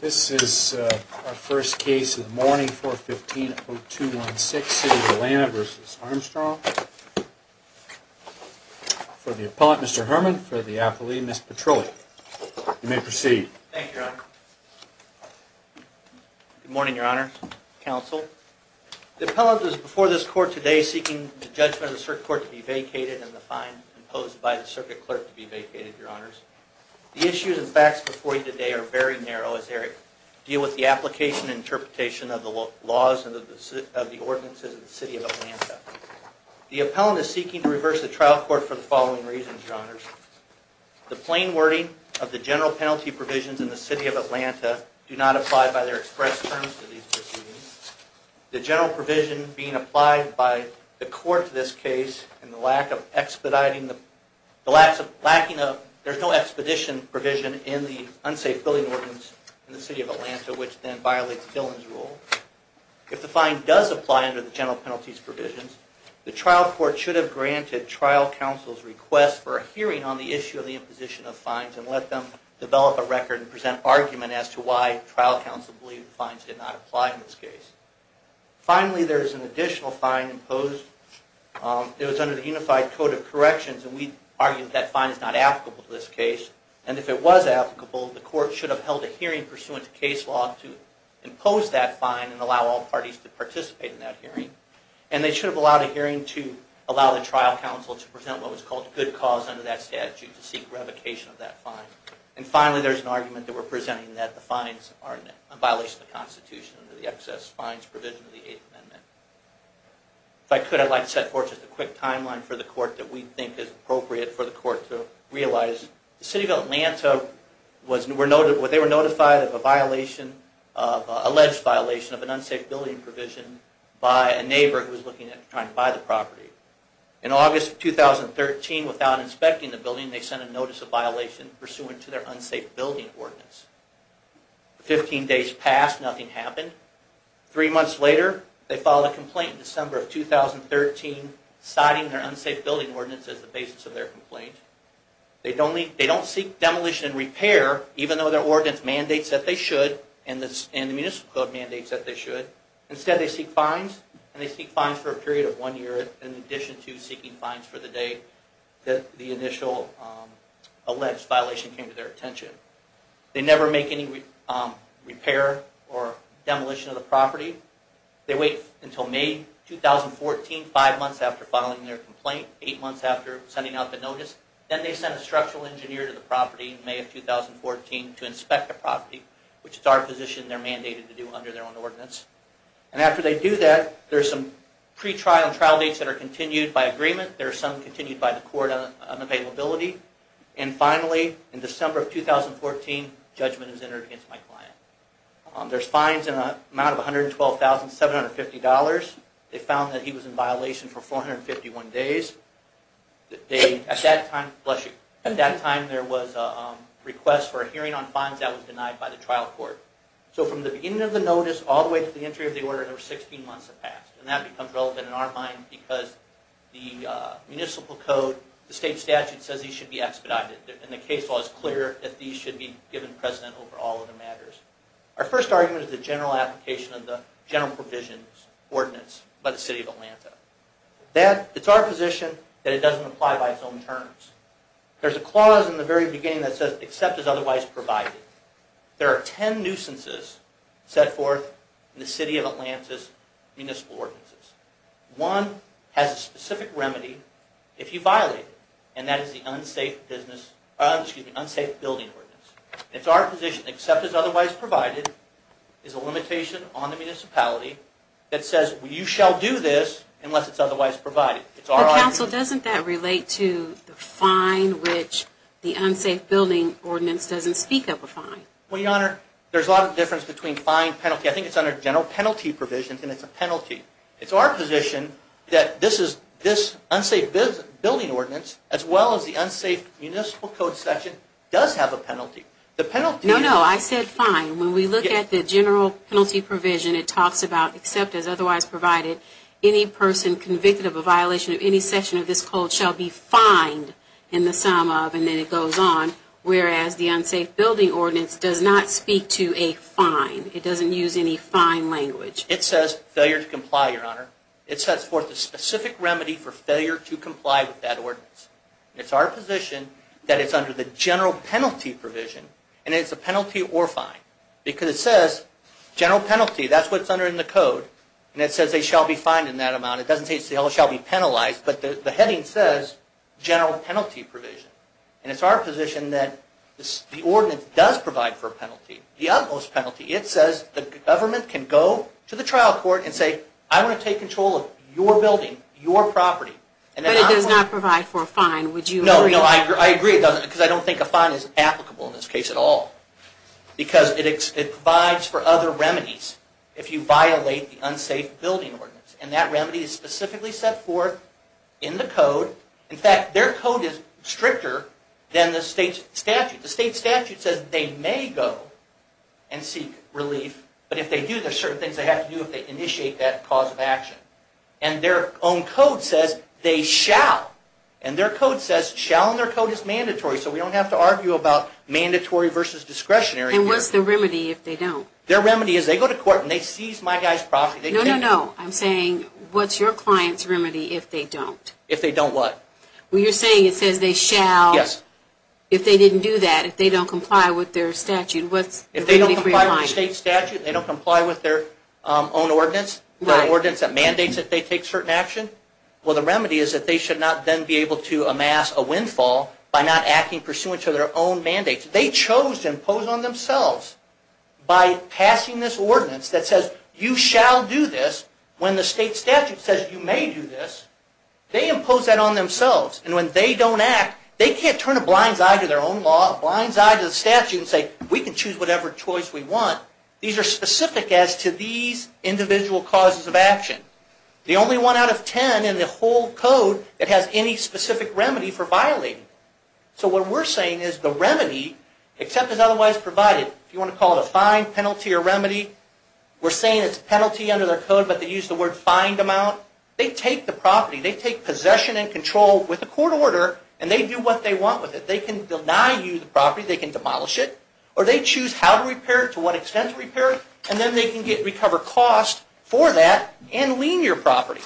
This is our first case of the morning, 415-0216, City of Atlanta v. Armstrong, for the appellant Mr. Herman, for the affilee Ms. Petroli. You may proceed. Thank you, your honor. Good morning, your honor, counsel. The appellant is before this court today seeking the judgment of the circuit court to be vacated and the fine imposed by the circuit clerk to be vacated, your honors. The issues and facts before you today are very narrow as they deal with the application and interpretation of the laws of the ordinances of the City of Atlanta. The appellant is seeking to reverse the trial court for the following reasons, your honors. The plain wording of the general penalty provisions in the City of Atlanta do not apply by their express terms to these proceedings. The general provision being applied by the court to this case and the lack of expediting, there's no expedition provision in the unsafe building ordinance in the City of Atlanta which then violates Dillon's rule. If the fine does apply under the general penalties provisions, the trial court should have granted trial counsel's request for a hearing on the issue of the imposition of fines and let them develop a record and present argument as to why trial counsel believed fines did not apply in this case. Finally, there's an additional fine imposed. It was under the Unified Code of Corrections and we argued that fine is not applicable to this case. And if it was applicable, the court should have held a hearing pursuant to case law to impose that fine and allow all parties to participate in that hearing. And they should have allowed a hearing to allow the trial counsel to present what was called good cause under that statute to seek revocation of that fine. And finally, there's an argument that we're presenting that the fines are in violation of the Constitution under the excess fines provision of the Eighth Amendment. If I could, I'd like to set forth just a quick timeline for the court that we think is appropriate for the court to realize. The City of Atlanta, they were notified of an alleged violation of an unsafe building provision by a neighbor who was looking at trying to buy the property. In August of 2013, without inspecting the building, they sent a notice of violation pursuant to their unsafe building ordinance. Fifteen days passed, nothing happened. Three months later, they filed a complaint in December of 2013 citing their unsafe building ordinance as the basis of their complaint. They don't seek demolition and repair, even though their ordinance mandates that they should and the Municipal Code mandates that they should. Instead, they seek fines. And they seek fines for a period of one year in addition to seeking fines for the day that the initial alleged violation came to their attention. They never make any repair or demolition of the property. They wait until May 2014, five months after filing their complaint, eight months after sending out the notice. Then they send a structural engineer to the property in May of 2014 to inspect the property, which is our position they're mandated to do under their own ordinance. And after they do that, there's some pre-trial and trial dates that are continued by agreement. There's some continued by the court on availability. And finally, in December of 2014, judgment is entered against my client. There's fines in the amount of $112,750. They found that he was in violation for 451 days. At that time, bless you, at that time there was a request for a hearing on fines that was denied by the trial court. So from the beginning of the notice all the way to the entry of the order, there were 16 months that passed. And that becomes relevant in our mind because the Municipal Code, the state statute, says these should be expedited. And the case law is clear that these should be given precedent over all other matters. Our first argument is the general application of the General Provisions Ordinance by the City of Atlanta. It's our position that it doesn't apply by its own terms. There's a clause in the very beginning that says, except as otherwise provided. There are ten nuisances set forth in the City of Atlanta's Municipal Ordinances. One has a specific remedy if you violate it, and that is the Unsafe Building Ordinance. It's our position that except as otherwise provided is a limitation on the municipality that says you shall do this unless it's otherwise provided. But Counsel, doesn't that relate to the fine which the Unsafe Building Ordinance doesn't speak of a fine? Well, Your Honor, there's a lot of difference between fine and penalty. I think it's under General Penalty Provisions and it's a penalty. It's our position that this Unsafe Building Ordinance, as well as the Unsafe Municipal Code section, does have a penalty. No, no, I said fine. When we look at the General Penalty Provision, it talks about except as otherwise provided, any person convicted of a violation of any section of this code shall be fined in the sum of, and then it goes on, whereas the Unsafe Building Ordinance does not speak to a fine. It doesn't use any fine language. It says failure to comply, Your Honor. It sets forth a specific remedy for failure to comply with that ordinance. It's our position that it's under the General Penalty Provision, and it's a penalty or fine. Because it says General Penalty, that's what's under the code, and it says they shall be fined in that amount. It doesn't say they shall be penalized, but the heading says General Penalty Provision. And it's our position that the ordinance does provide for a penalty, the utmost penalty. It says the government can go to the trial court and say, I want to take control of your building, your property. But it does not provide for a fine, would you agree? No, I agree it doesn't, because I don't think a fine is applicable in this case at all. Because it provides for other remedies if you violate the Unsafe Building Ordinance. And that remedy is specifically set forth in the code. In fact, their code is stricter than the state statute. The state statute says they may go and seek relief, but if they do, there are certain things they have to do if they initiate that cause of action. And their own code says they shall. And their code says shall, and their code is mandatory, so we don't have to argue about mandatory versus discretionary here. And what's the remedy if they don't? Their remedy is they go to court and they seize my guy's property. No, no, no. I'm saying, what's your client's remedy if they don't? If they don't what? Well, you're saying it says they shall. Yes. If they didn't do that, if they don't comply with their statute, what's the remedy for your client? If they don't comply with the state statute, they don't comply with their own ordinance, their ordinance that mandates that they take certain action, well, the remedy is that they should not then be able to amass a windfall by not acting pursuant to their own mandates. They chose to impose on themselves by passing this ordinance that says you shall do this when the state statute says you may do this. They impose that on themselves, and when they don't act, they can't turn a blind eye to their own law, a blind eye to the statute, and say we can choose whatever choice we want. These are specific as to these individual causes of action. The only one out of ten in the whole code that has any specific remedy for violating. So what we're saying is the remedy, except as otherwise provided, if you want to call it a fine, penalty, or remedy, we're saying it's a penalty under their code, but they use the word fined amount. They take the property. They take possession and control with a court order, and they do what they want with it. They can deny you the property. They can demolish it, or they choose how to repair it, to what extent to repair it, and then they can recover cost for that and lien your property.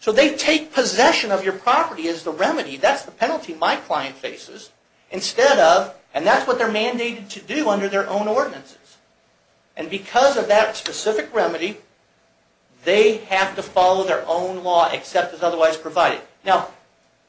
So they take possession of your property as the remedy. That's the penalty my client faces instead of, and that's what they're mandated to do under their own ordinances. And because of that specific remedy, they have to follow their own law, except as otherwise provided. Now,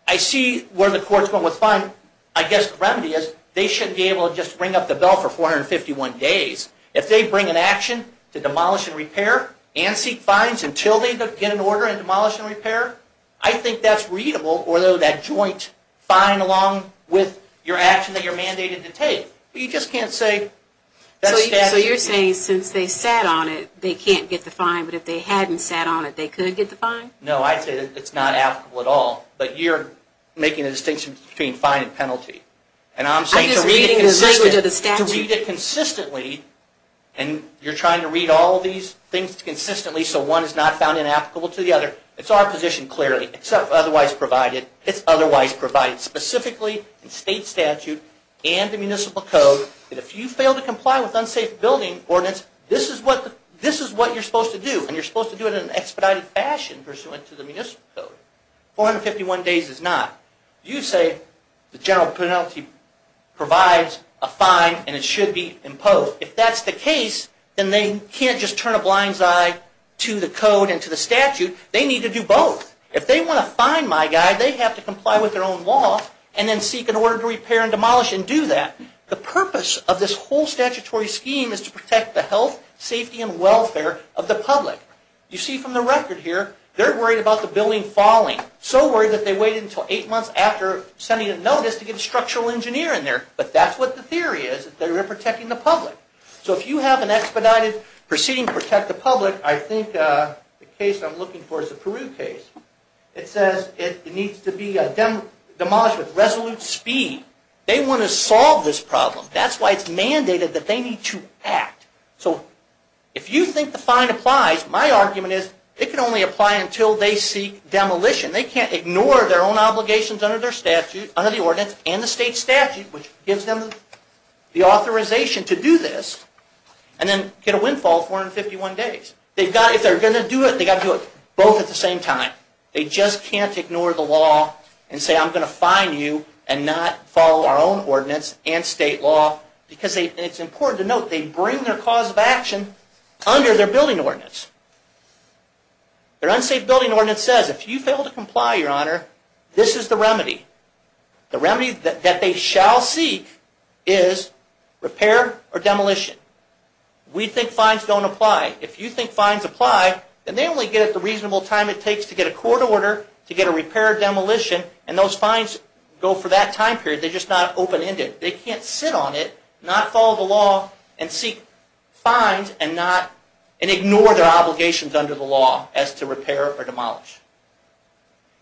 I see where the court's going with fine. I guess the remedy is they shouldn't be able to just ring up the bell for 451 days. If they bring an action to demolish and repair and seek fines until they get an order and demolish and repair, I think that's readable, or that joint fine along with your action that you're mandated to take. You just can't say that's statute. So you're saying since they sat on it, they can't get the fine, but if they hadn't sat on it, they could get the fine? No, I'd say it's not applicable at all, but you're making a distinction between fine and penalty. And I'm saying to read it consistently. I'm just reading the language of the statute. To read it consistently, and you're trying to read all these things consistently so one is not found inapplicable to the other. It's our position clearly, except otherwise provided. It's otherwise provided specifically in state statute and the municipal code that if you fail to comply with unsafe building ordinance, this is what you're supposed to do. And you're supposed to do it in an expedited fashion pursuant to the municipal code. 451 days is not. You say the general penalty provides a fine and it should be imposed. So if that's the case, then they can't just turn a blind eye to the code and to the statute. They need to do both. If they want a fine, my guy, they have to comply with their own law and then seek an order to repair and demolish and do that. The purpose of this whole statutory scheme is to protect the health, safety, and welfare of the public. You see from the record here, they're worried about the building falling. So worried that they waited until eight months after sending a notice to get a structural engineer in there. But that's what the theory is, that they're protecting the public. So if you have an expedited proceeding to protect the public, I think the case I'm looking for is the Peru case. It says it needs to be demolished with resolute speed. They want to solve this problem. That's why it's mandated that they need to act. So if you think the fine applies, my argument is it can only apply until they seek demolition. They can't ignore their own obligations under the ordinance and the state statute, which gives them the authorization to do this, and then get a windfall of 451 days. If they're going to do it, they've got to do it both at the same time. They just can't ignore the law and say I'm going to fine you and not follow our own ordinance and state law. It's important to note they bring their cause of action under their building ordinance. Their unsafe building ordinance says if you fail to comply, Your Honor, this is the remedy. The remedy that they shall seek is repair or demolition. We think fines don't apply. If you think fines apply, then they only get it the reasonable time it takes to get a court order to get a repair or demolition, and those fines go for that time period. They're just not open-ended. They can't sit on it, not follow the law and seek fines and ignore their obligations under the law as to repair or demolish.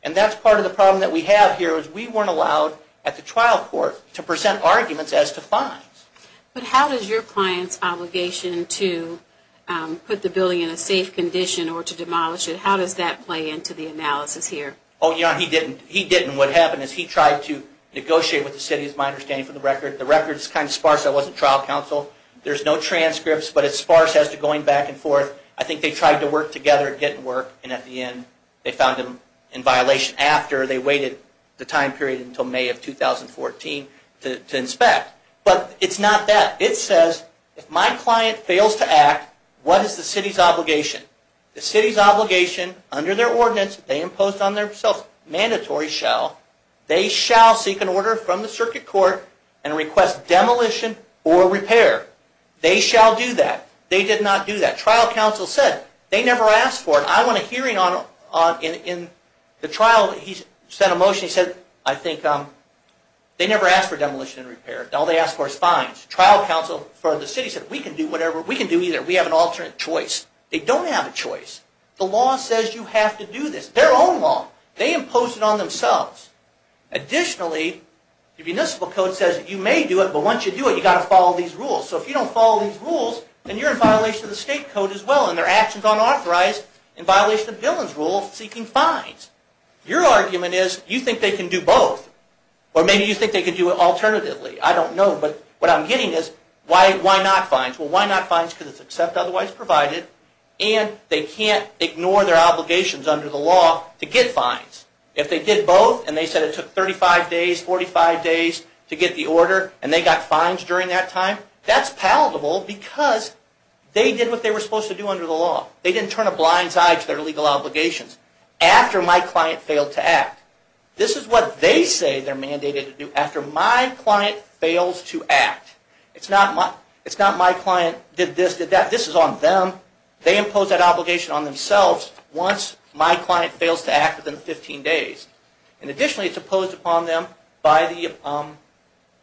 And that's part of the problem that we have here is we weren't allowed at the trial court to present arguments as to fines. But how does your client's obligation to put the building in a safe condition or to demolish it, how does that play into the analysis here? Oh, Your Honor, he didn't. And what happened is he tried to negotiate with the city, is my understanding, for the record. The record is kind of sparse. I wasn't trial counsel. There's no transcripts, but it's sparse as to going back and forth. I think they tried to work together and get it to work, and at the end they found him in violation after they waited the time period until May of 2014 to inspect. But it's not that. The city's obligation under their ordinance they imposed on themselves, mandatory shall, they shall seek an order from the circuit court and request demolition or repair. They shall do that. They did not do that. Trial counsel said they never asked for it. I went to hearing in the trial. He sent a motion. He said, I think, they never asked for demolition and repair. All they asked for is fines. Trial counsel for the city said we can do whatever. We can do either. We have an alternate choice. They don't have a choice. The law says you have to do this. Their own law. They imposed it on themselves. Additionally, the municipal code says that you may do it, but once you do it, you've got to follow these rules. So if you don't follow these rules, then you're in violation of the state code as well, and they're actions unauthorized in violation of Dillon's rule of seeking fines. Your argument is you think they can do both, or maybe you think they can do it alternatively. I don't know, but what I'm getting is why not fines? Well, why not fines? Because it's except otherwise provided, and they can't ignore their obligations under the law to get fines. If they did both, and they said it took 35 days, 45 days to get the order, and they got fines during that time, that's palatable because they did what they were supposed to do under the law. They didn't turn a blind eye to their legal obligations after my client failed to act. This is what they say they're mandated to do after my client fails to act. It's not my client did this, did that. This is on them. They impose that obligation on themselves once my client fails to act within 15 days. And additionally, it's imposed upon them by the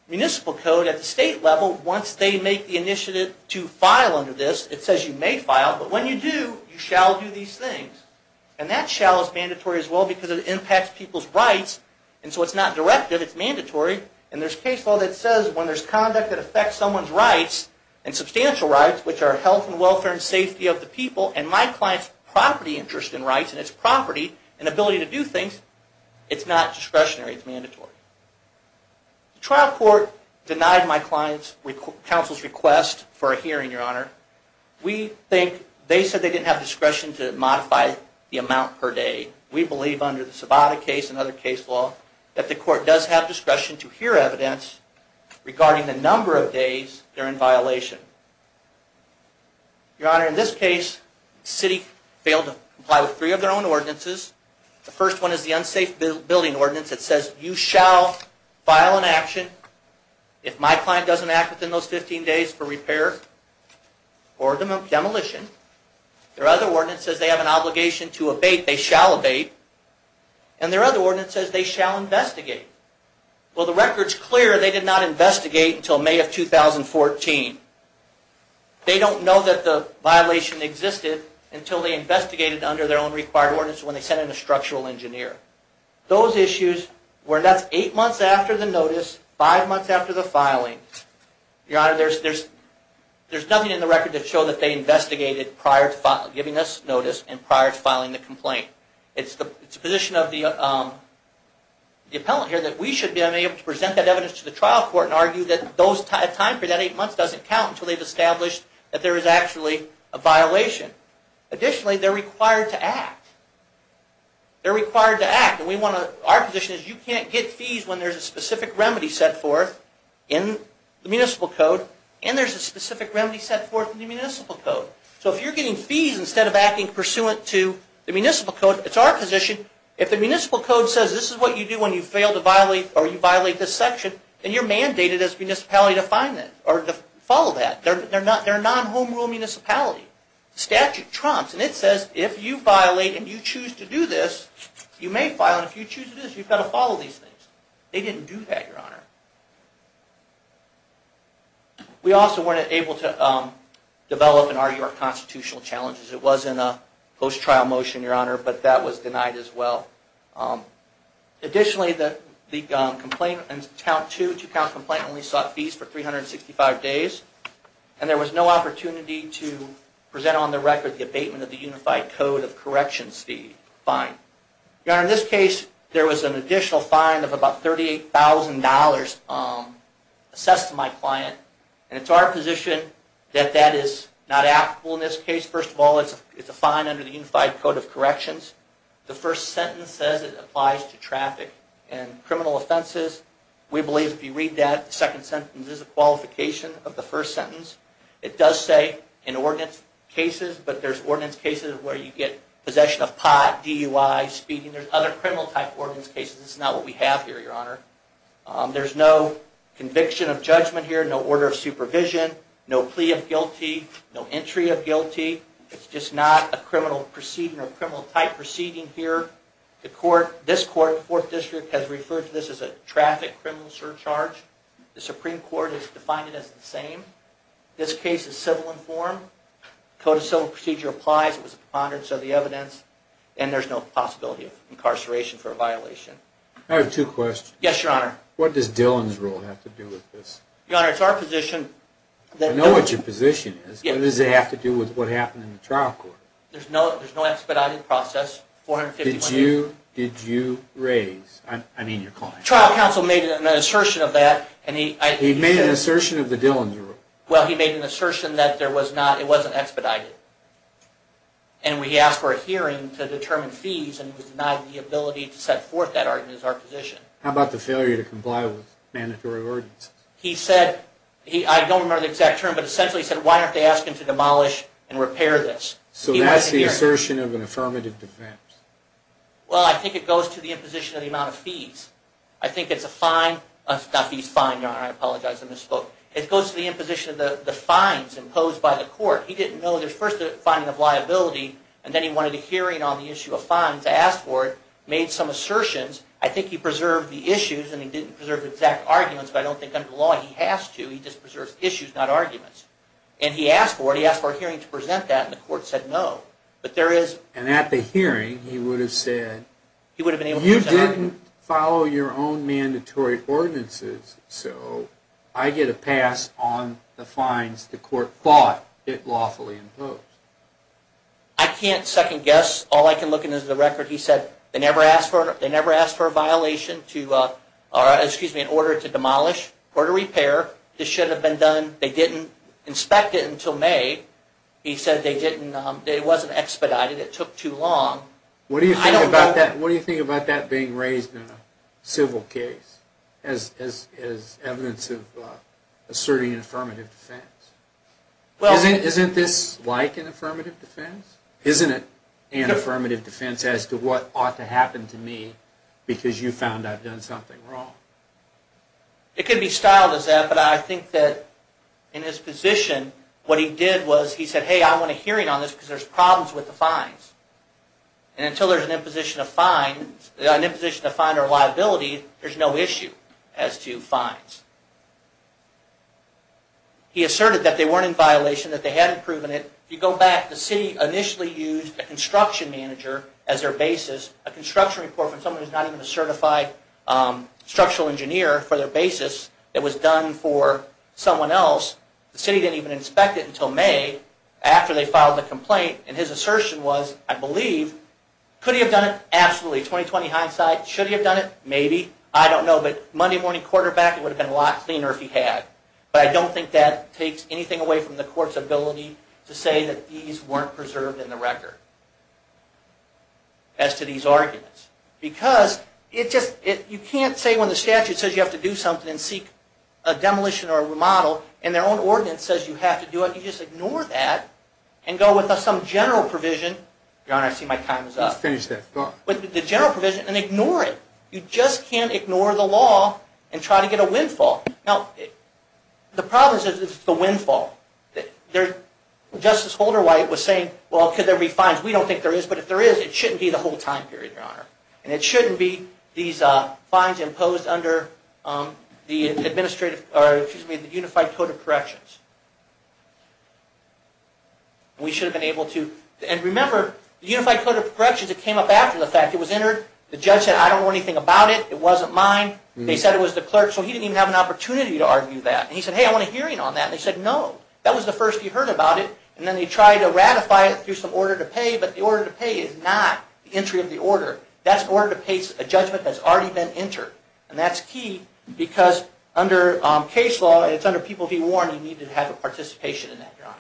municipal code at the state level once they make the initiative to file under this. It says you may file, but when you do, you shall do these things. And that shall is mandatory as well because it impacts people's rights, and so it's not directive, it's mandatory. And there's case law that says when there's conduct that affects someone's rights and substantial rights, which are health and welfare and safety of the people and my client's property interest in rights and its property and ability to do things, it's not discretionary, it's mandatory. The trial court denied my client's counsel's request for a hearing, Your Honor. We think they said they didn't have discretion to modify the amount per day. We believe under the Savada case and other case law that the court does have discretion to hear evidence regarding the number of days they're in violation. Your Honor, in this case, the city failed to comply with three of their own ordinances. The first one is the unsafe building ordinance that says you shall file an action if my client doesn't act within those 15 days for repair or demolition. Their other ordinance says they have an obligation to abate, they shall abate. And their other ordinance says they shall investigate. Well, the record's clear they did not investigate until May of 2014. They don't know that the violation existed until they investigated under their own required ordinance when they sent in a structural engineer. Those issues were, and that's eight months after the notice, five months after the filing. Your Honor, there's nothing in the record to show that they investigated prior to giving us notice and prior to filing the complaint. It's the position of the appellant here that we should be able to present that evidence to the trial court and argue that a time period of eight months doesn't count until they've established that there is actually a violation. Additionally, they're required to act. They're required to act. Our position is you can't get fees when there's a specific remedy set forth in the municipal code and there's a specific remedy set forth in the municipal code. So if you're getting fees instead of acting pursuant to the municipal code, it's our position, if the municipal code says this is what you do when you fail to violate or you violate this section, then you're mandated as a municipality to follow that. They're a non-home rule municipality. The statute trumps, and it says if you violate and you choose to do this, you may file, and if you choose to do this, you've got to follow these things. They didn't do that, Your Honor. We also weren't able to develop and argue our constitutional challenges. It was in a post-trial motion, Your Honor, but that was denied as well. Additionally, the complaint, the two-count complaint only sought fees for 365 days, and there was no opportunity to present on the record the abatement of the unified code of corrections fee fine. Your Honor, in this case, there was an additional fine of about $38,000 assessed to my client, and it's our position that that is not applicable in this case. First of all, it's a fine under the unified code of corrections. The first sentence says it applies to traffic and criminal offenses. We believe if you read that, the second sentence is a qualification of the first sentence. It does say in ordinance cases, but there's ordinance cases where you get possession of pot, DUI, speeding. There's other criminal-type ordinance cases. This is not what we have here, Your Honor. There's no conviction of judgment here, no order of supervision, no plea of guilty, no entry of guilty. It's just not a criminal proceeding or a criminal-type proceeding here. This court, the Fourth District, has referred to this as a traffic criminal surcharge. The Supreme Court has defined it as the same. This case is civil-informed. The Code of Civil Procedure applies. It was a preponderance of the evidence, and there's no possibility of incarceration for a violation. I have two questions. Yes, Your Honor. What does Dillon's rule have to do with this? Your Honor, it's our position that... I know what your position is, but what does it have to do with what happened in the trial court? There's no expedited process. 450... Did you raise... I mean your client. Trial counsel made an assertion of that, and he... He made an assertion of the Dillon's rule. Well, he made an assertion that there was not... it wasn't expedited. And we asked for a hearing to determine fees, and he was denied the ability to set forth that argument as our position. How about the failure to comply with mandatory ordinances? He said... I don't remember the exact term, but essentially he said, why don't they ask him to demolish and repair this? So that's the assertion of an affirmative defense. Well, I think it goes to the imposition of the amount of fees. I think it's a fine... Not fees, fine, Your Honor. I apologize, I misspoke. It goes to the imposition of the fines imposed by the court. He didn't know there's first a finding of liability, and then he wanted a hearing on the issue of fines. I asked for it, made some assertions. I think he preserved the issues, and he didn't preserve the exact arguments, but I don't think under the law he has to. He just preserves issues, not arguments. And he asked for it, he asked for a hearing to present that, and the court said no. But there is... And at the hearing, he would have said... He would have been able to present an argument. You didn't follow your own mandatory ordinances, so I get a pass on the fines the court thought it lawfully imposed. I can't second guess. All I can look at is the record. He said they never asked for a violation to... Excuse me, in order to demolish or to repair. This should have been done. They didn't inspect it until May. He said they didn't... It wasn't expedited. It took too long. What do you think about that being raised in a civil case? As evidence of asserting an affirmative defense. Isn't this like an affirmative defense? Isn't it an affirmative defense as to what ought to happen to me because you found I've done something wrong? It could be styled as that, but I think that in his position, what he did was he said, hey, I want a hearing on this because there's problems with the fines. And until there's an imposition of fines... There's no issue as to fines. He asserted that they weren't in violation, that they hadn't proven it. If you go back, the city initially used a construction manager as their basis, a construction report from someone who's not even a certified structural engineer for their basis that was done for someone else. The city didn't even inspect it until May after they filed the complaint. And his assertion was, I believe, could he have done it? Absolutely. 20-20 hindsight, should he have done it? Maybe. I don't know, but Monday morning quarterback, it would have been a lot cleaner if he had. But I don't think that takes anything away from the court's ability to say that these weren't preserved in the record as to these arguments. Because you can't say when the statute says you have to do something and seek a demolition or a remodel and their own ordinance says you have to do it, you just ignore that and go with some general provision. Your Honor, I see my time is up. Let's finish this. With the general provision and ignore it. You just can't ignore the law and try to get a windfall. Now, the problem is it's the windfall. Justice Holderwhite was saying, well, could there be fines? We don't think there is, but if there is, it shouldn't be the whole time period, Your Honor. And it shouldn't be these fines imposed under the Unified Code of Corrections. We should have been able to... And remember, the Unified Code of Corrections, it came up after the fact. It was entered. The judge said, I don't know anything about it. It wasn't mine. They said it was the clerk's. So he didn't even have an opportunity to argue that. And he said, hey, I want a hearing on that. And they said, no. That was the first he heard about it. And then they tried to ratify it through some order to pay, but the order to pay is not the entry of the order. That's order to pay a judgment that's already been entered. And that's key because under case law, it's under People v. Warren, you need to have a participation in that, Your Honor.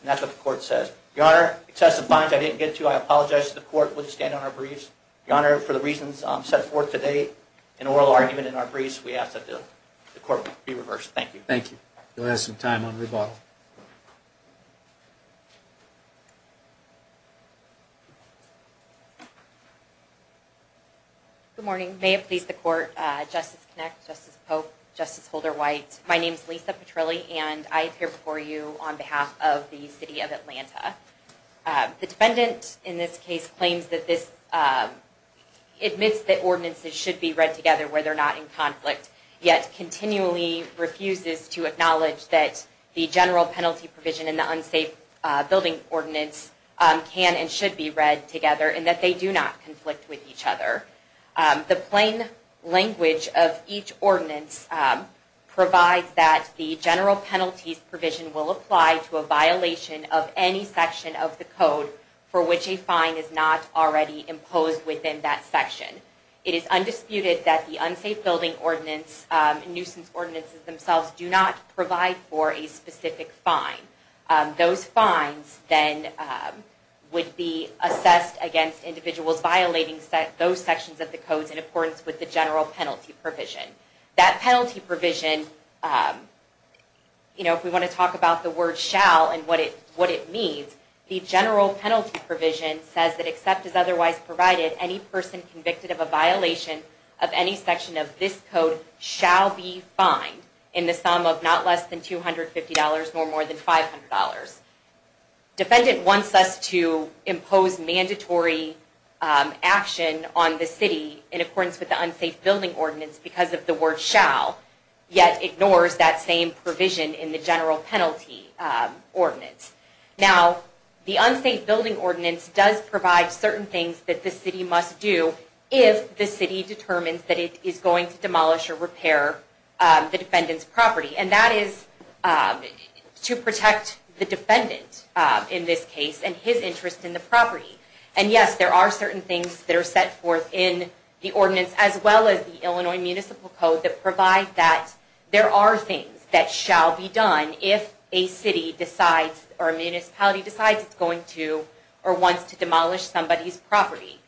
And that's what the court says. Your Honor, excessive fines I didn't get to. I apologize to the court. We'll just stand on our briefs. Your Honor, for the reasons set forth today in oral argument in our briefs, we ask that the court be reversed. Thank you. Thank you. You'll have some time on rebuttal. Good morning. May it please the court. Justice Kinect, Justice Pope, Justice Holder-White, my name's Lisa Petrilli, and I appear before you on behalf of the city of Atlanta. The defendant in this case claims that this admits that ordinances should be read together where they're not in conflict, yet continually refuses to acknowledge that the general penalty provision and the unsafe building ordinance can and should be read together and that they do not conflict with each other. The plain language of each ordinance provides that the general penalties provision will apply to a violation of any section of the code for which a fine is not already imposed within that section. It is undisputed that the unsafe building ordinance and nuisance ordinances themselves do not provide for a specific fine. Those fines then would be assessed against individuals violating those sections of the codes in accordance with the general penalty provision. That penalty provision, if we want to talk about the word shall and what it means, the general penalty provision says that except as otherwise provided, any person convicted of a violation of any section of this code shall be fined in the sum of not less than $250 nor more than $500. Defendant wants us to impose mandatory action on the city in accordance with the unsafe building ordinance because of the word shall, yet ignores that same provision in the general penalty ordinance. Now, the unsafe building ordinance does provide certain things that the city must do if the city determines that it is going to demolish or repair the defendant's property and that is to protect the defendant in this case and his interest in the property. And yes, there are certain things that are set forth in the ordinance as well as the Illinois Municipal Code that provide that there are things that shall be done if a city decides or a municipality decides it's going to or wants to demolish somebody's property.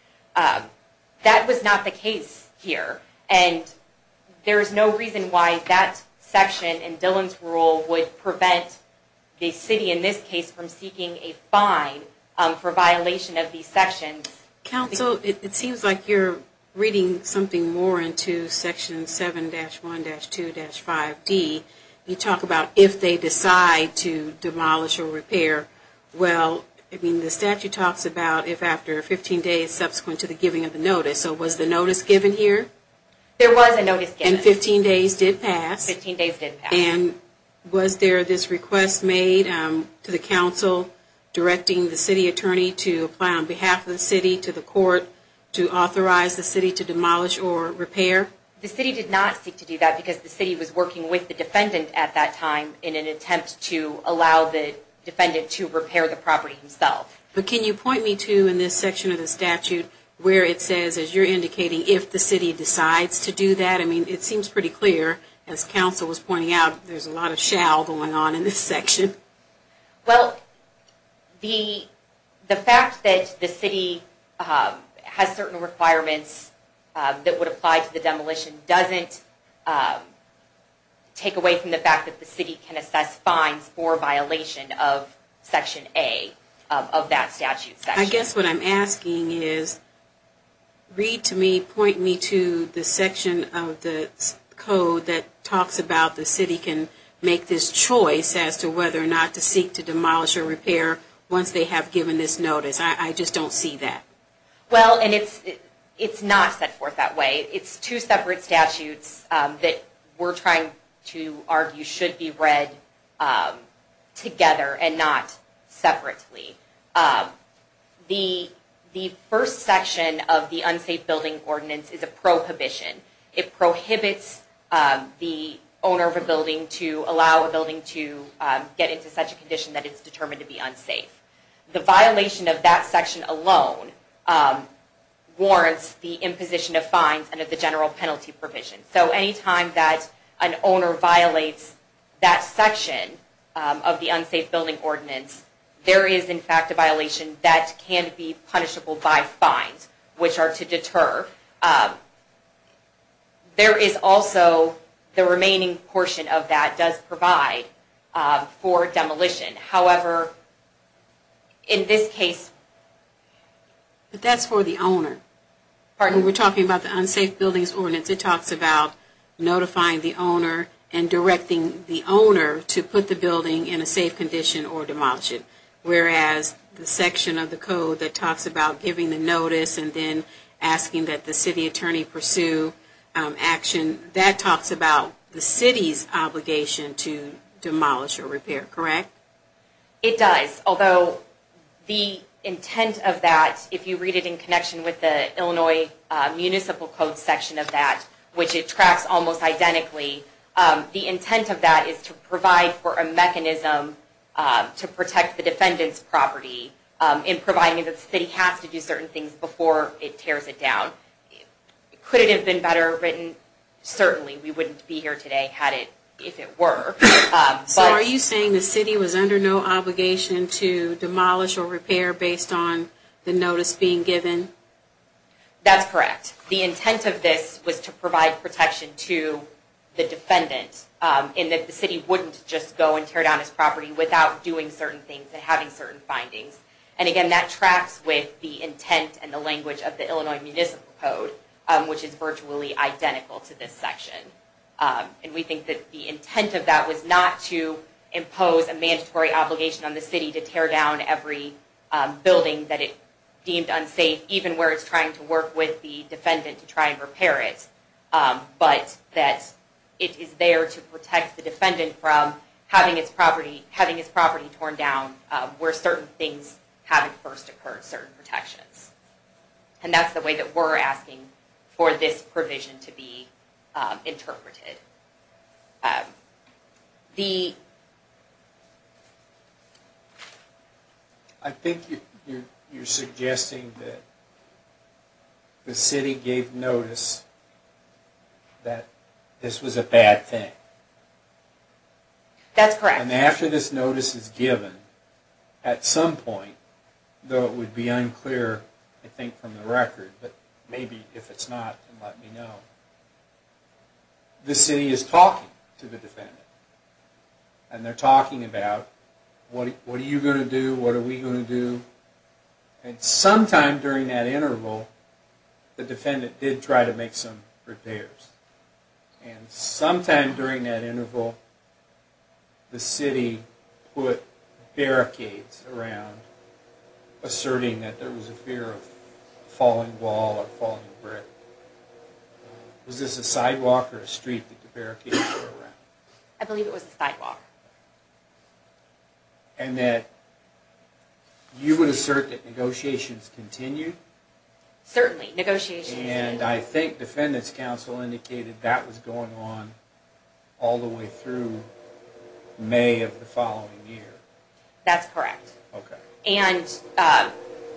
That was not the case here and there is no reason why that section in Dillon's rule would prevent the city in this case from seeking a fine for violation of these sections. Counsel, it seems like you're reading something more into section 7-1-2-5D. You talk about if they decide to demolish or repair. Well, the statute talks about if after 15 days subsequent to the giving of the notice. So was the notice given here? There was a notice given. And 15 days did pass. And was there this request made to the council directing the city attorney to apply on behalf of the city to the court to authorize the city to demolish or repair? The city did not seek to do that because the city was working with the defendant at that time in an attempt to allow the defendant to repair the property himself. But can you point me to in this section of the statute where it says, as you're indicating, if the city decides to do that? I mean, it seems pretty clear as counsel was pointing out there's a lot of shell going on in this section. Well, the fact that the city has certain requirements that would apply to the demolition doesn't take away from the fact that the city can assess fines for violation of Section A of that statute. I guess what I'm asking is read to me, point me to the section of the code that talks about the city can make this choice as to whether or not to seek to demolish or repair once they have given this notice. I just don't see that. Well, and it's not set forth that way. It's two separate statutes that we're trying to argue should be read together and not separately. The first section of the Unsafe Building Ordinance is a prohibition. It prohibits the owner of a building to allow a building to get into such a condition that it's determined to be unsafe. The violation of that section alone warrants the imposition of fines and of the general penalty provision. So anytime that an owner violates that section of the Unsafe Building Ordinance, there is in fact a violation that can be punishable by fines, which are to deter. There is also the remaining portion of that does provide for demolition. However, in this case... But that's for the owner. Pardon? We're talking about the Unsafe Building Ordinance. It talks about notifying the owner and directing the owner to put the building in a safe condition or demolish it. Whereas the section of the code that talks about giving the notice and then asking that the city attorney pursue action, that talks about the city's obligation to demolish or repair. Correct? It does. Although the intent of that, if you read it in connection with the Illinois Municipal Code section of that, which it tracks almost identically, the intent of that is to provide for a mechanism to protect the defendant's property in providing that the city has to do certain things before it tears it down. Could it have been better written? Certainly. We wouldn't be here today had it, if it were. So are you saying the city was under no obligation to demolish or repair based on the notice being given? That's correct. The intent of this was to provide protection to the defendant in that the city wouldn't just go and tear down his property without doing certain things and having certain findings. And again, that tracks with the intent and the language of the Illinois Municipal Code, which is virtually identical to this section. And we think that the intent of that was not to impose a mandatory obligation on the city to tear down every building that it deemed unsafe, even where it's trying to work with the defendant to try and repair it, but that it is there to protect the defendant from having his property torn down where certain things haven't first occurred, certain protections. And that's the way that we're asking for this provision to be interpreted. I think you're suggesting that the city gave notice that this was a bad thing. That's correct. And after this notice is given, at some point, though it would be unclear, but maybe if it's not, let me know, this is a bad thing. The city is talking to the defendant. And they're talking about what are you going to do? What are we going to do? And sometime during that interval, the defendant did try to make some repairs. And sometime during that interval, the city put barricades around, asserting that there was a fear of a falling wall or falling brick. Was this a sidewalk or a street that the barricades were around? I believe it was a sidewalk. And that you would assert that negotiations continued? Certainly. Negotiations continued. And I think defendants council indicated that was going on all the way through May of the following year. That's correct. And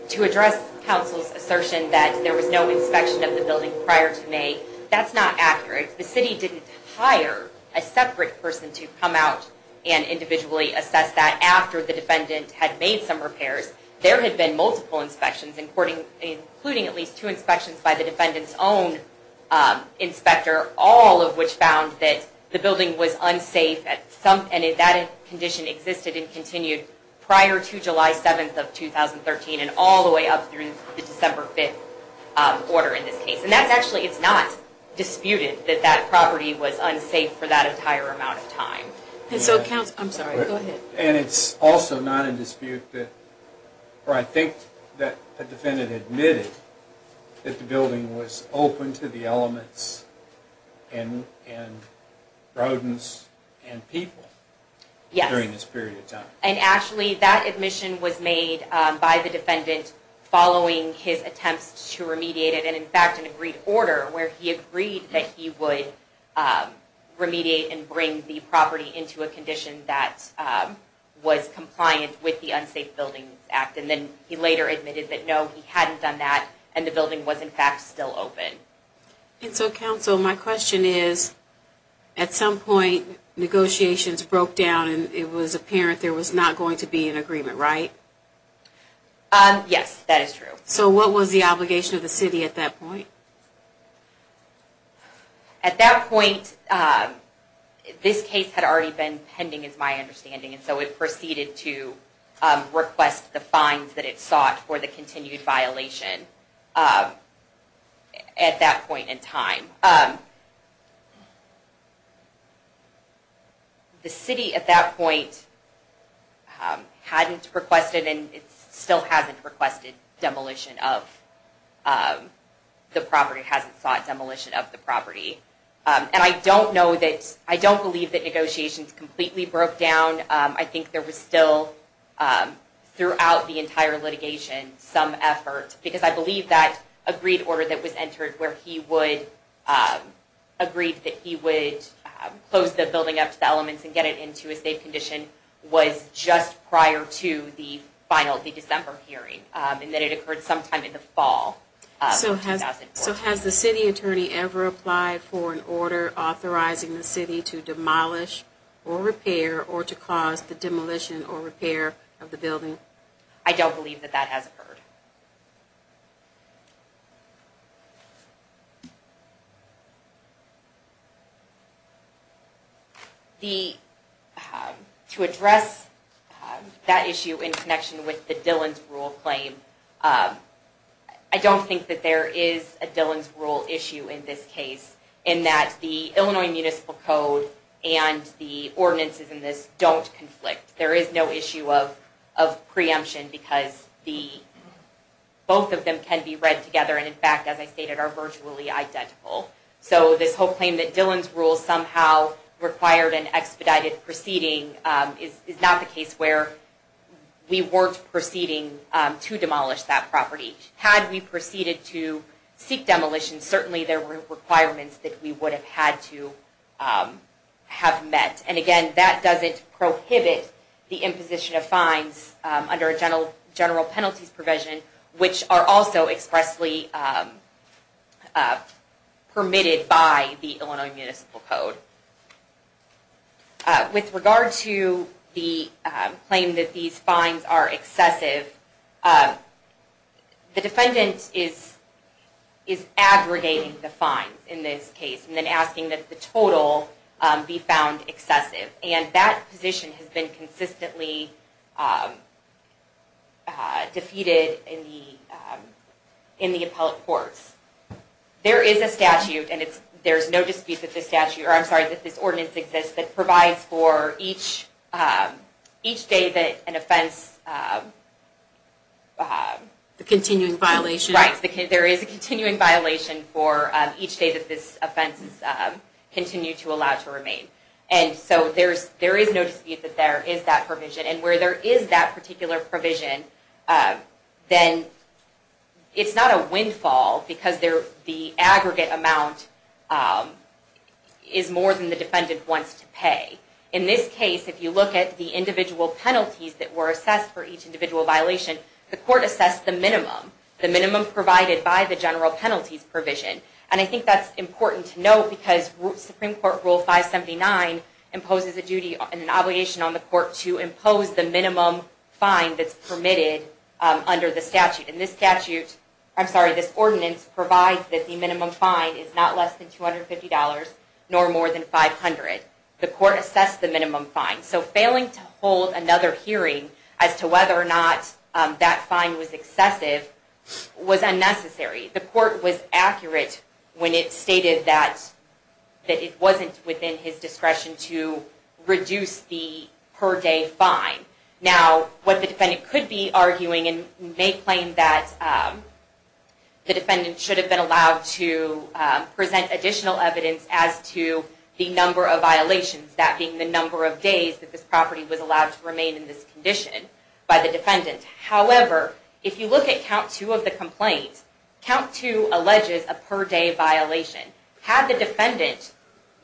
to address council's assertion that there was no inspection of the building prior to May, that's not accurate. The city didn't hire a separate person to come out and individually assess that after the defendant had made some repairs. There had been multiple inspections, including at least two inspections by the defendant's own inspector, all of which found that the building was unsafe and that condition existed and continued prior to July 7th of 2013 and all the way up through the December 5th order in this case. And that's actually, it's not disputed that that property was unsafe for that entire amount of time. And it's also not in dispute that or I think that the defendant admitted that the building was open to the elements and rodents and people during this period of time. And actually that admission was made by the defendant following his attempts to remediate it and in fact an agreed order where he agreed that he would remediate and bring the property into a condition that was compliant with the Unsafe Buildings Act. And then he later admitted that no, he hadn't done that and the building was in fact still open. And so council, my question is at some point negotiations broke down and it was apparent there was not going to be an agreement, right? Yes, that is true. So what was the obligation of the city at that point? At that point this case had already been pending is my understanding and so it proceeded to request the fines that it sought for the continued violation at that point in time. So the city at that point hadn't requested and still hasn't requested demolition of the property, hasn't sought demolition of the property. And I don't know that, I don't believe that negotiations completely broke down. I think there was still throughout the entire litigation some effort because I believe that agreed order that was entered where he would agree that he would close the building up to the elements and get it into a safe condition was just prior to the final, the December hearing and that it occurred sometime in the fall of 2004. So has the city attorney ever applied for an order authorizing the city to demolish or repair or to cause the demolition or repair of the building? I don't believe that that has occurred. To address that issue in connection with the Dillon's Rule claim, I don't think that there is a Dillon's Rule issue in this case in that the Illinois Municipal Code and the ordinances in this don't conflict. There is no issue of preemption because both of them can be read together and in fact as I stated earlier, the ordinances are virtually identical. So this whole claim that Dillon's Rule somehow required an expedited proceeding is not the case where we weren't proceeding to demolish that property. Had we proceeded to seek demolition, certainly there were requirements that we would have had to have met. And again, that doesn't prohibit the imposition of fines under a general penalties provision which are also expressly permitted by the Illinois Municipal Code. With regard to the claim that these fines are excessive, the defendant is aggregating the fines in this case and then asking that the total be found excessive. And that position has been consistently defeated in the appellate courts. There is a statute, and there's no dispute that this statute, or I'm sorry, that this ordinance exists that provides for each day that an offense The continuing violation. Right. There is a continuing violation for each day that this offense is continued to allow to remain. And so there is no dispute that there is that provision. And where there is that particular provision, then it's not a windfall because the aggregate amount is more than the defendant wants to pay. In this case, if you look at the individual penalties that were assessed for each individual violation, the court assessed the minimum. The minimum provided by the general penalties provision. And I think that's important to note because Supreme Court Rule 579 imposes an obligation on the court to impose the minimum fine that's permitted under the statute. And this statute, I'm sorry, this ordinance provides that the minimum fine is not less than $250 nor more than $500. The court assessed the minimum fine. So failing to hold another hearing as to whether or not that fine was excessive was unnecessary. The court was accurate when it stated that it wasn't within his discretion to reduce the per day fine. Now, what the defendant could be arguing and may claim that the defendant should have been allowed to present additional evidence as to the number of violations, that being the number of days that this property was allowed to remain in this condition by the defendant. However, if you look at Count 2 of the complaint, Count 2 alleges a per day violation. Had the defendant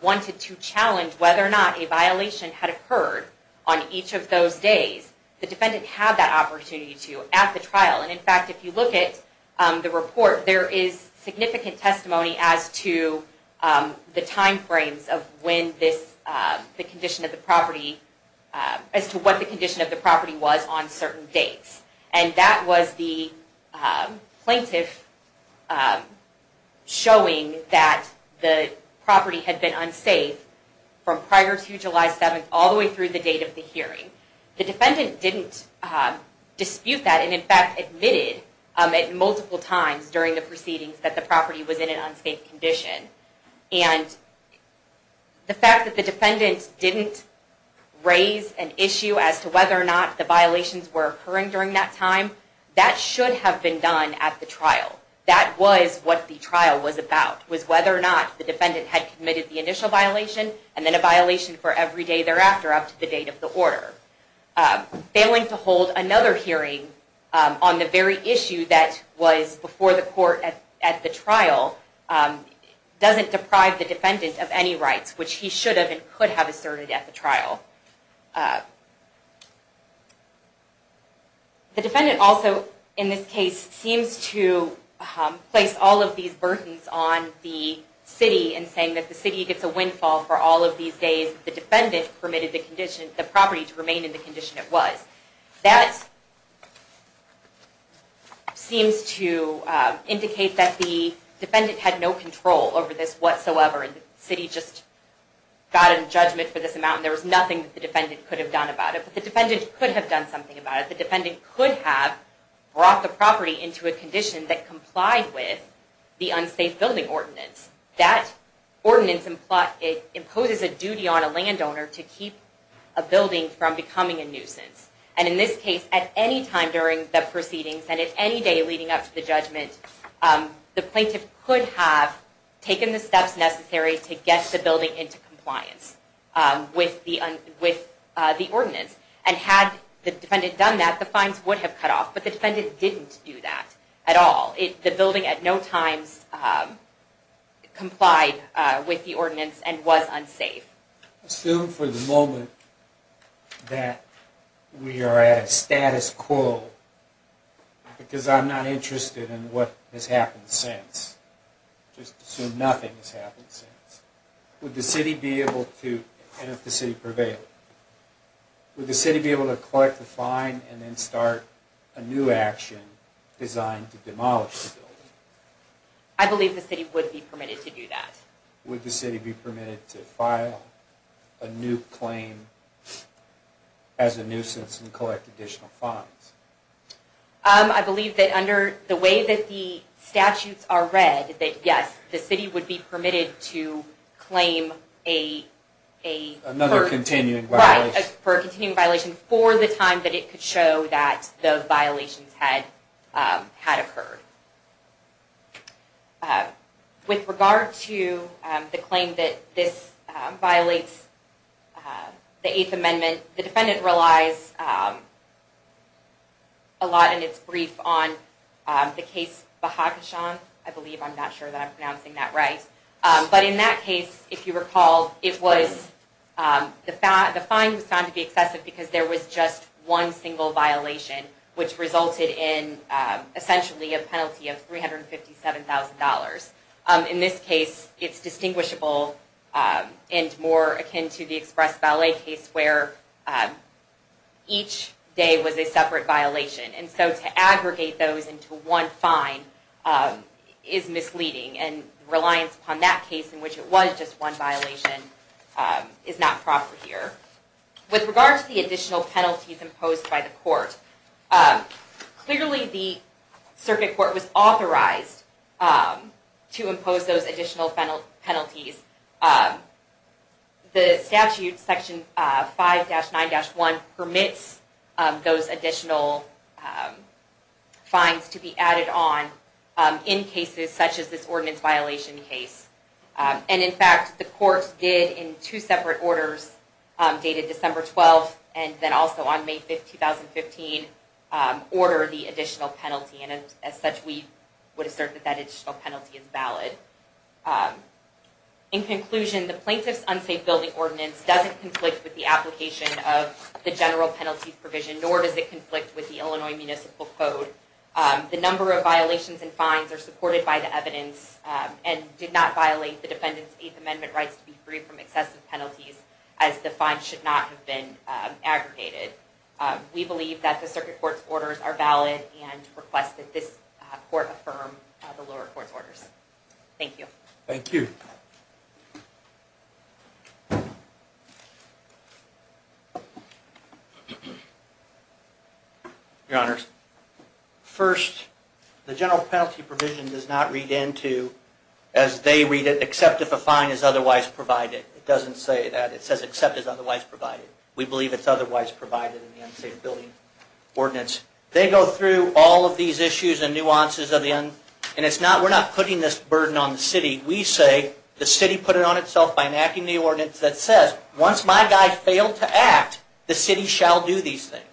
wanted to challenge whether or not a violation had occurred on each of those days, the defendant had that opportunity to at the trial. And in fact, if you look at the report, there is significant testimony as to the time frames of when this, the condition of the property, as to what the condition of the property was on certain dates. And that was the plaintiff showing that the property had been unsafe from prior to July 7th all the way through the date of the hearing. The defendant didn't dispute that and in fact admitted it multiple times during the proceedings that the property was in an unsafe condition. And the fact that the defendant didn't raise an issue as to whether or not the violations were occurring during that time, that should have been done at the trial. That was what the trial was about, was whether or not the defendant had committed the initial violation and then a violation for every day thereafter up to the date of the order. Failing to hold another hearing on the very issue that was before the court at the trial doesn't deprive the defendant of any rights, which he should have and could have asserted at the trial. The defendant also in this case seems to place all of these burdens on the city in saying that the city gets a windfall for all of these days that the defendant permitted the condition, the property to remain in the condition it was. That seems to indicate that the defendant had no control over this whatsoever and the city just got in judgment for this amount and there was nothing that the defendant could have done about it. But the defendant could have done something about it. The defendant could have brought the building into compliance with the Unsafe Building Ordinance. That ordinance imposes a duty on a landowner to keep a building from becoming a nuisance and in this case at any time during the proceedings and at any day leading up to the judgment the plaintiff could have taken the steps necessary to get the building into compliance with the ordinance and had the defendant done that, the fines would have cut off but the defendant didn't do that at all. The building at no time complied with the ordinance and was unsafe. Assume for the moment that we are at a status quo because I'm not interested in what has happened since. Just assume nothing has happened since. Would the city be able to and if the city prevailed, would the city be able to collect a fine and then start a new action designed to demolish the building? I believe the city would be permitted to do that. Would the city be permitted to file a new claim as a nuisance and collect additional fines? I believe that under the way that the statutes are read, that yes the city would be permitted to claim a another continuing violation for the time that it could show that those violations had occurred. With regard to the claim that this violates the Eighth Amendment, the defendant relies a lot in its brief on the case Bahakishan, I believe. I'm not sure that I'm pronouncing that right. But in that case if you recall, it was the fine was found to be excessive because there was just one single violation which resulted in essentially a penalty of $357,000. In this case, it's distinguishable and more akin to the Express Valet case where each day was a separate violation. And so to aggregate those into one fine is misleading. And reliance upon that case in which it was just one violation is not proper here. With regard to the additional penalties imposed by the court, clearly the circuit court was authorized to impose those additional penalties. The statute, Section 5-9-1 permits those additional fines to be added on in cases such as this ordinance violation case. In fact, the court did in two separate orders dated December 12 and then also on May 5, 2015 order the additional penalty. As such, we would assert that that additional penalty is valid. In conclusion, the Plaintiff's Unsafe Building Ordinance doesn't conflict with the application of the general penalty provision, nor does it conflict with the Illinois Municipal Code. The number of violations and did not violate the defendant's Eighth Amendment rights to be free from excessive penalties as the fines should not have been aggregated. We believe that the circuit court's orders are valid and request that this court affirm the lower court's orders. Thank you. Thank you. Your Honors, first, the general penalty provision does not read into as they read it, except if a fine is otherwise provided. It doesn't say that. It says except as otherwise provided. We believe it's otherwise provided in the Unsafe Building Ordinance. They go through all of these issues and nuances of the... and it's not... we're not putting this burden on the city. We say the city put it on itself by enacting the ordinance that says, once my guy failed to act, the city shall do these things.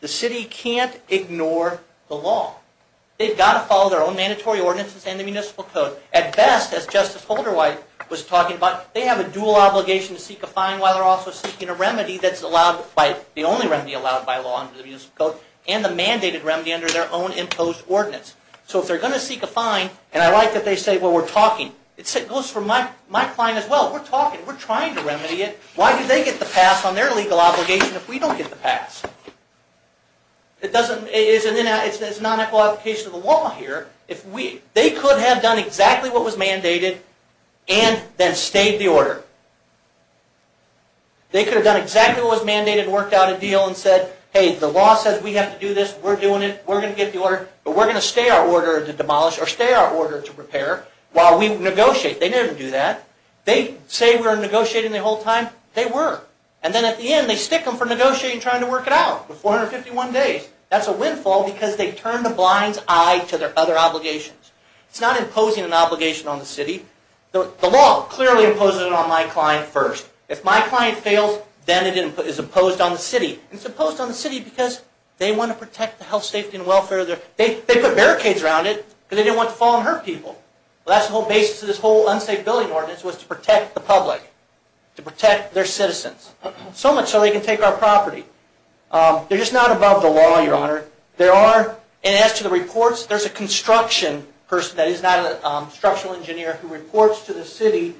The city can't ignore the law. They've got to follow their own mandatory ordinances and the Municipal Code. At best, as Justice Holderwhite was talking about, they have a dual obligation to seek a fine while they're also seeking a remedy that's allowed by... the only remedy allowed by law under the Municipal Code and the mandated remedy under their own imposed ordinance. So if they're going to seek a fine and I like that they say, well, we're talking. It goes for my client as well. We're talking. We're trying to remedy it. Why do they get the pass on their legal obligation if we don't get the pass? It doesn't... it's a non-equal application of the law here. If we... they could have done exactly what was mandated and then stayed the order. They could have done exactly what was mandated, worked out a deal and said, hey, the law says we have to do this. We're doing it. We're going to get the order, but we're going to stay our order to demolish or stay our order to repair while we negotiate. They never do that. They say we're negotiating the whole time. They were. And then at the end they stick them for negotiating trying to work it out for 451 days. That's a windfall because they turn the blind's eye to their other obligations. It's not imposing an obligation on the city. The law clearly imposes it on my client first. If my client fails, then it is imposed on the city. It's imposed on the city because they want to protect the health, safety, and welfare of their... they put barricades around it because they didn't want to fall and hurt people. That's the whole basis of this whole unsafe billing ordinance was to protect the public. To protect their citizens. So much so they can take our property. They're just not above the law, Your Honor. There are... and as to the reports, there's a construction person that is not a structural engineer who reports to the city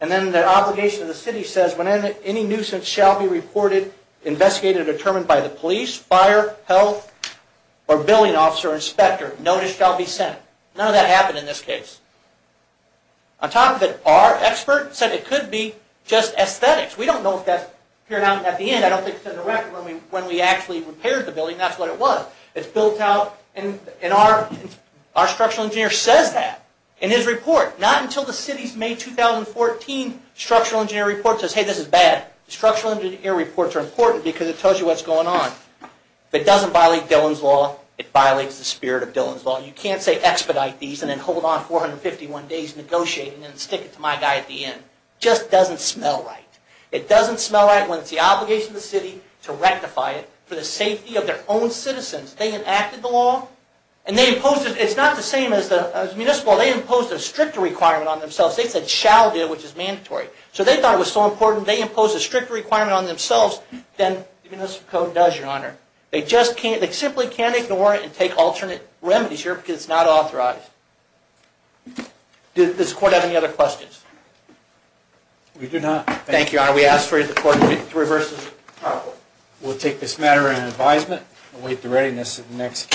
and then their obligation to the city says when any nuisance shall be reported investigated or determined by the police, fire, health, or billing officer or inspector, notice shall be sent. None of that happened in this case. On top of it, our expert said it could be just aesthetics. We don't know if that appeared out at the end. I don't think it's in the record when we actually repaired the building. That's what it was. It's built out and our structural engineer says that in his report. Not until the city's May 2014 structural engineer report says, hey, this is bad. Structural engineer reports are important because it tells you what's going on. If it doesn't violate Dillon's law, it violates the spirit of Dillon's law. You can't say expedite these and then hold on 451 days negotiating and stick it to my guy at the end. It just doesn't smell right. It doesn't smell right when it's the obligation of the city to rectify it for the safety of their own citizens. They enacted the law and they imposed it. It's not the same as the municipal. They imposed a stricter requirement on themselves. They said shall do, which is mandatory. So they thought it was so important. They imposed a stricter requirement on themselves than the municipal code does, Your Honor. They simply can't ignore it and take alternate remedies here because it's not authorized. Does the court have any other questions? We do not. Thank you, Your Honor. We ask for you to record three verses. We'll take this matter into advisement and await the readiness of the next case.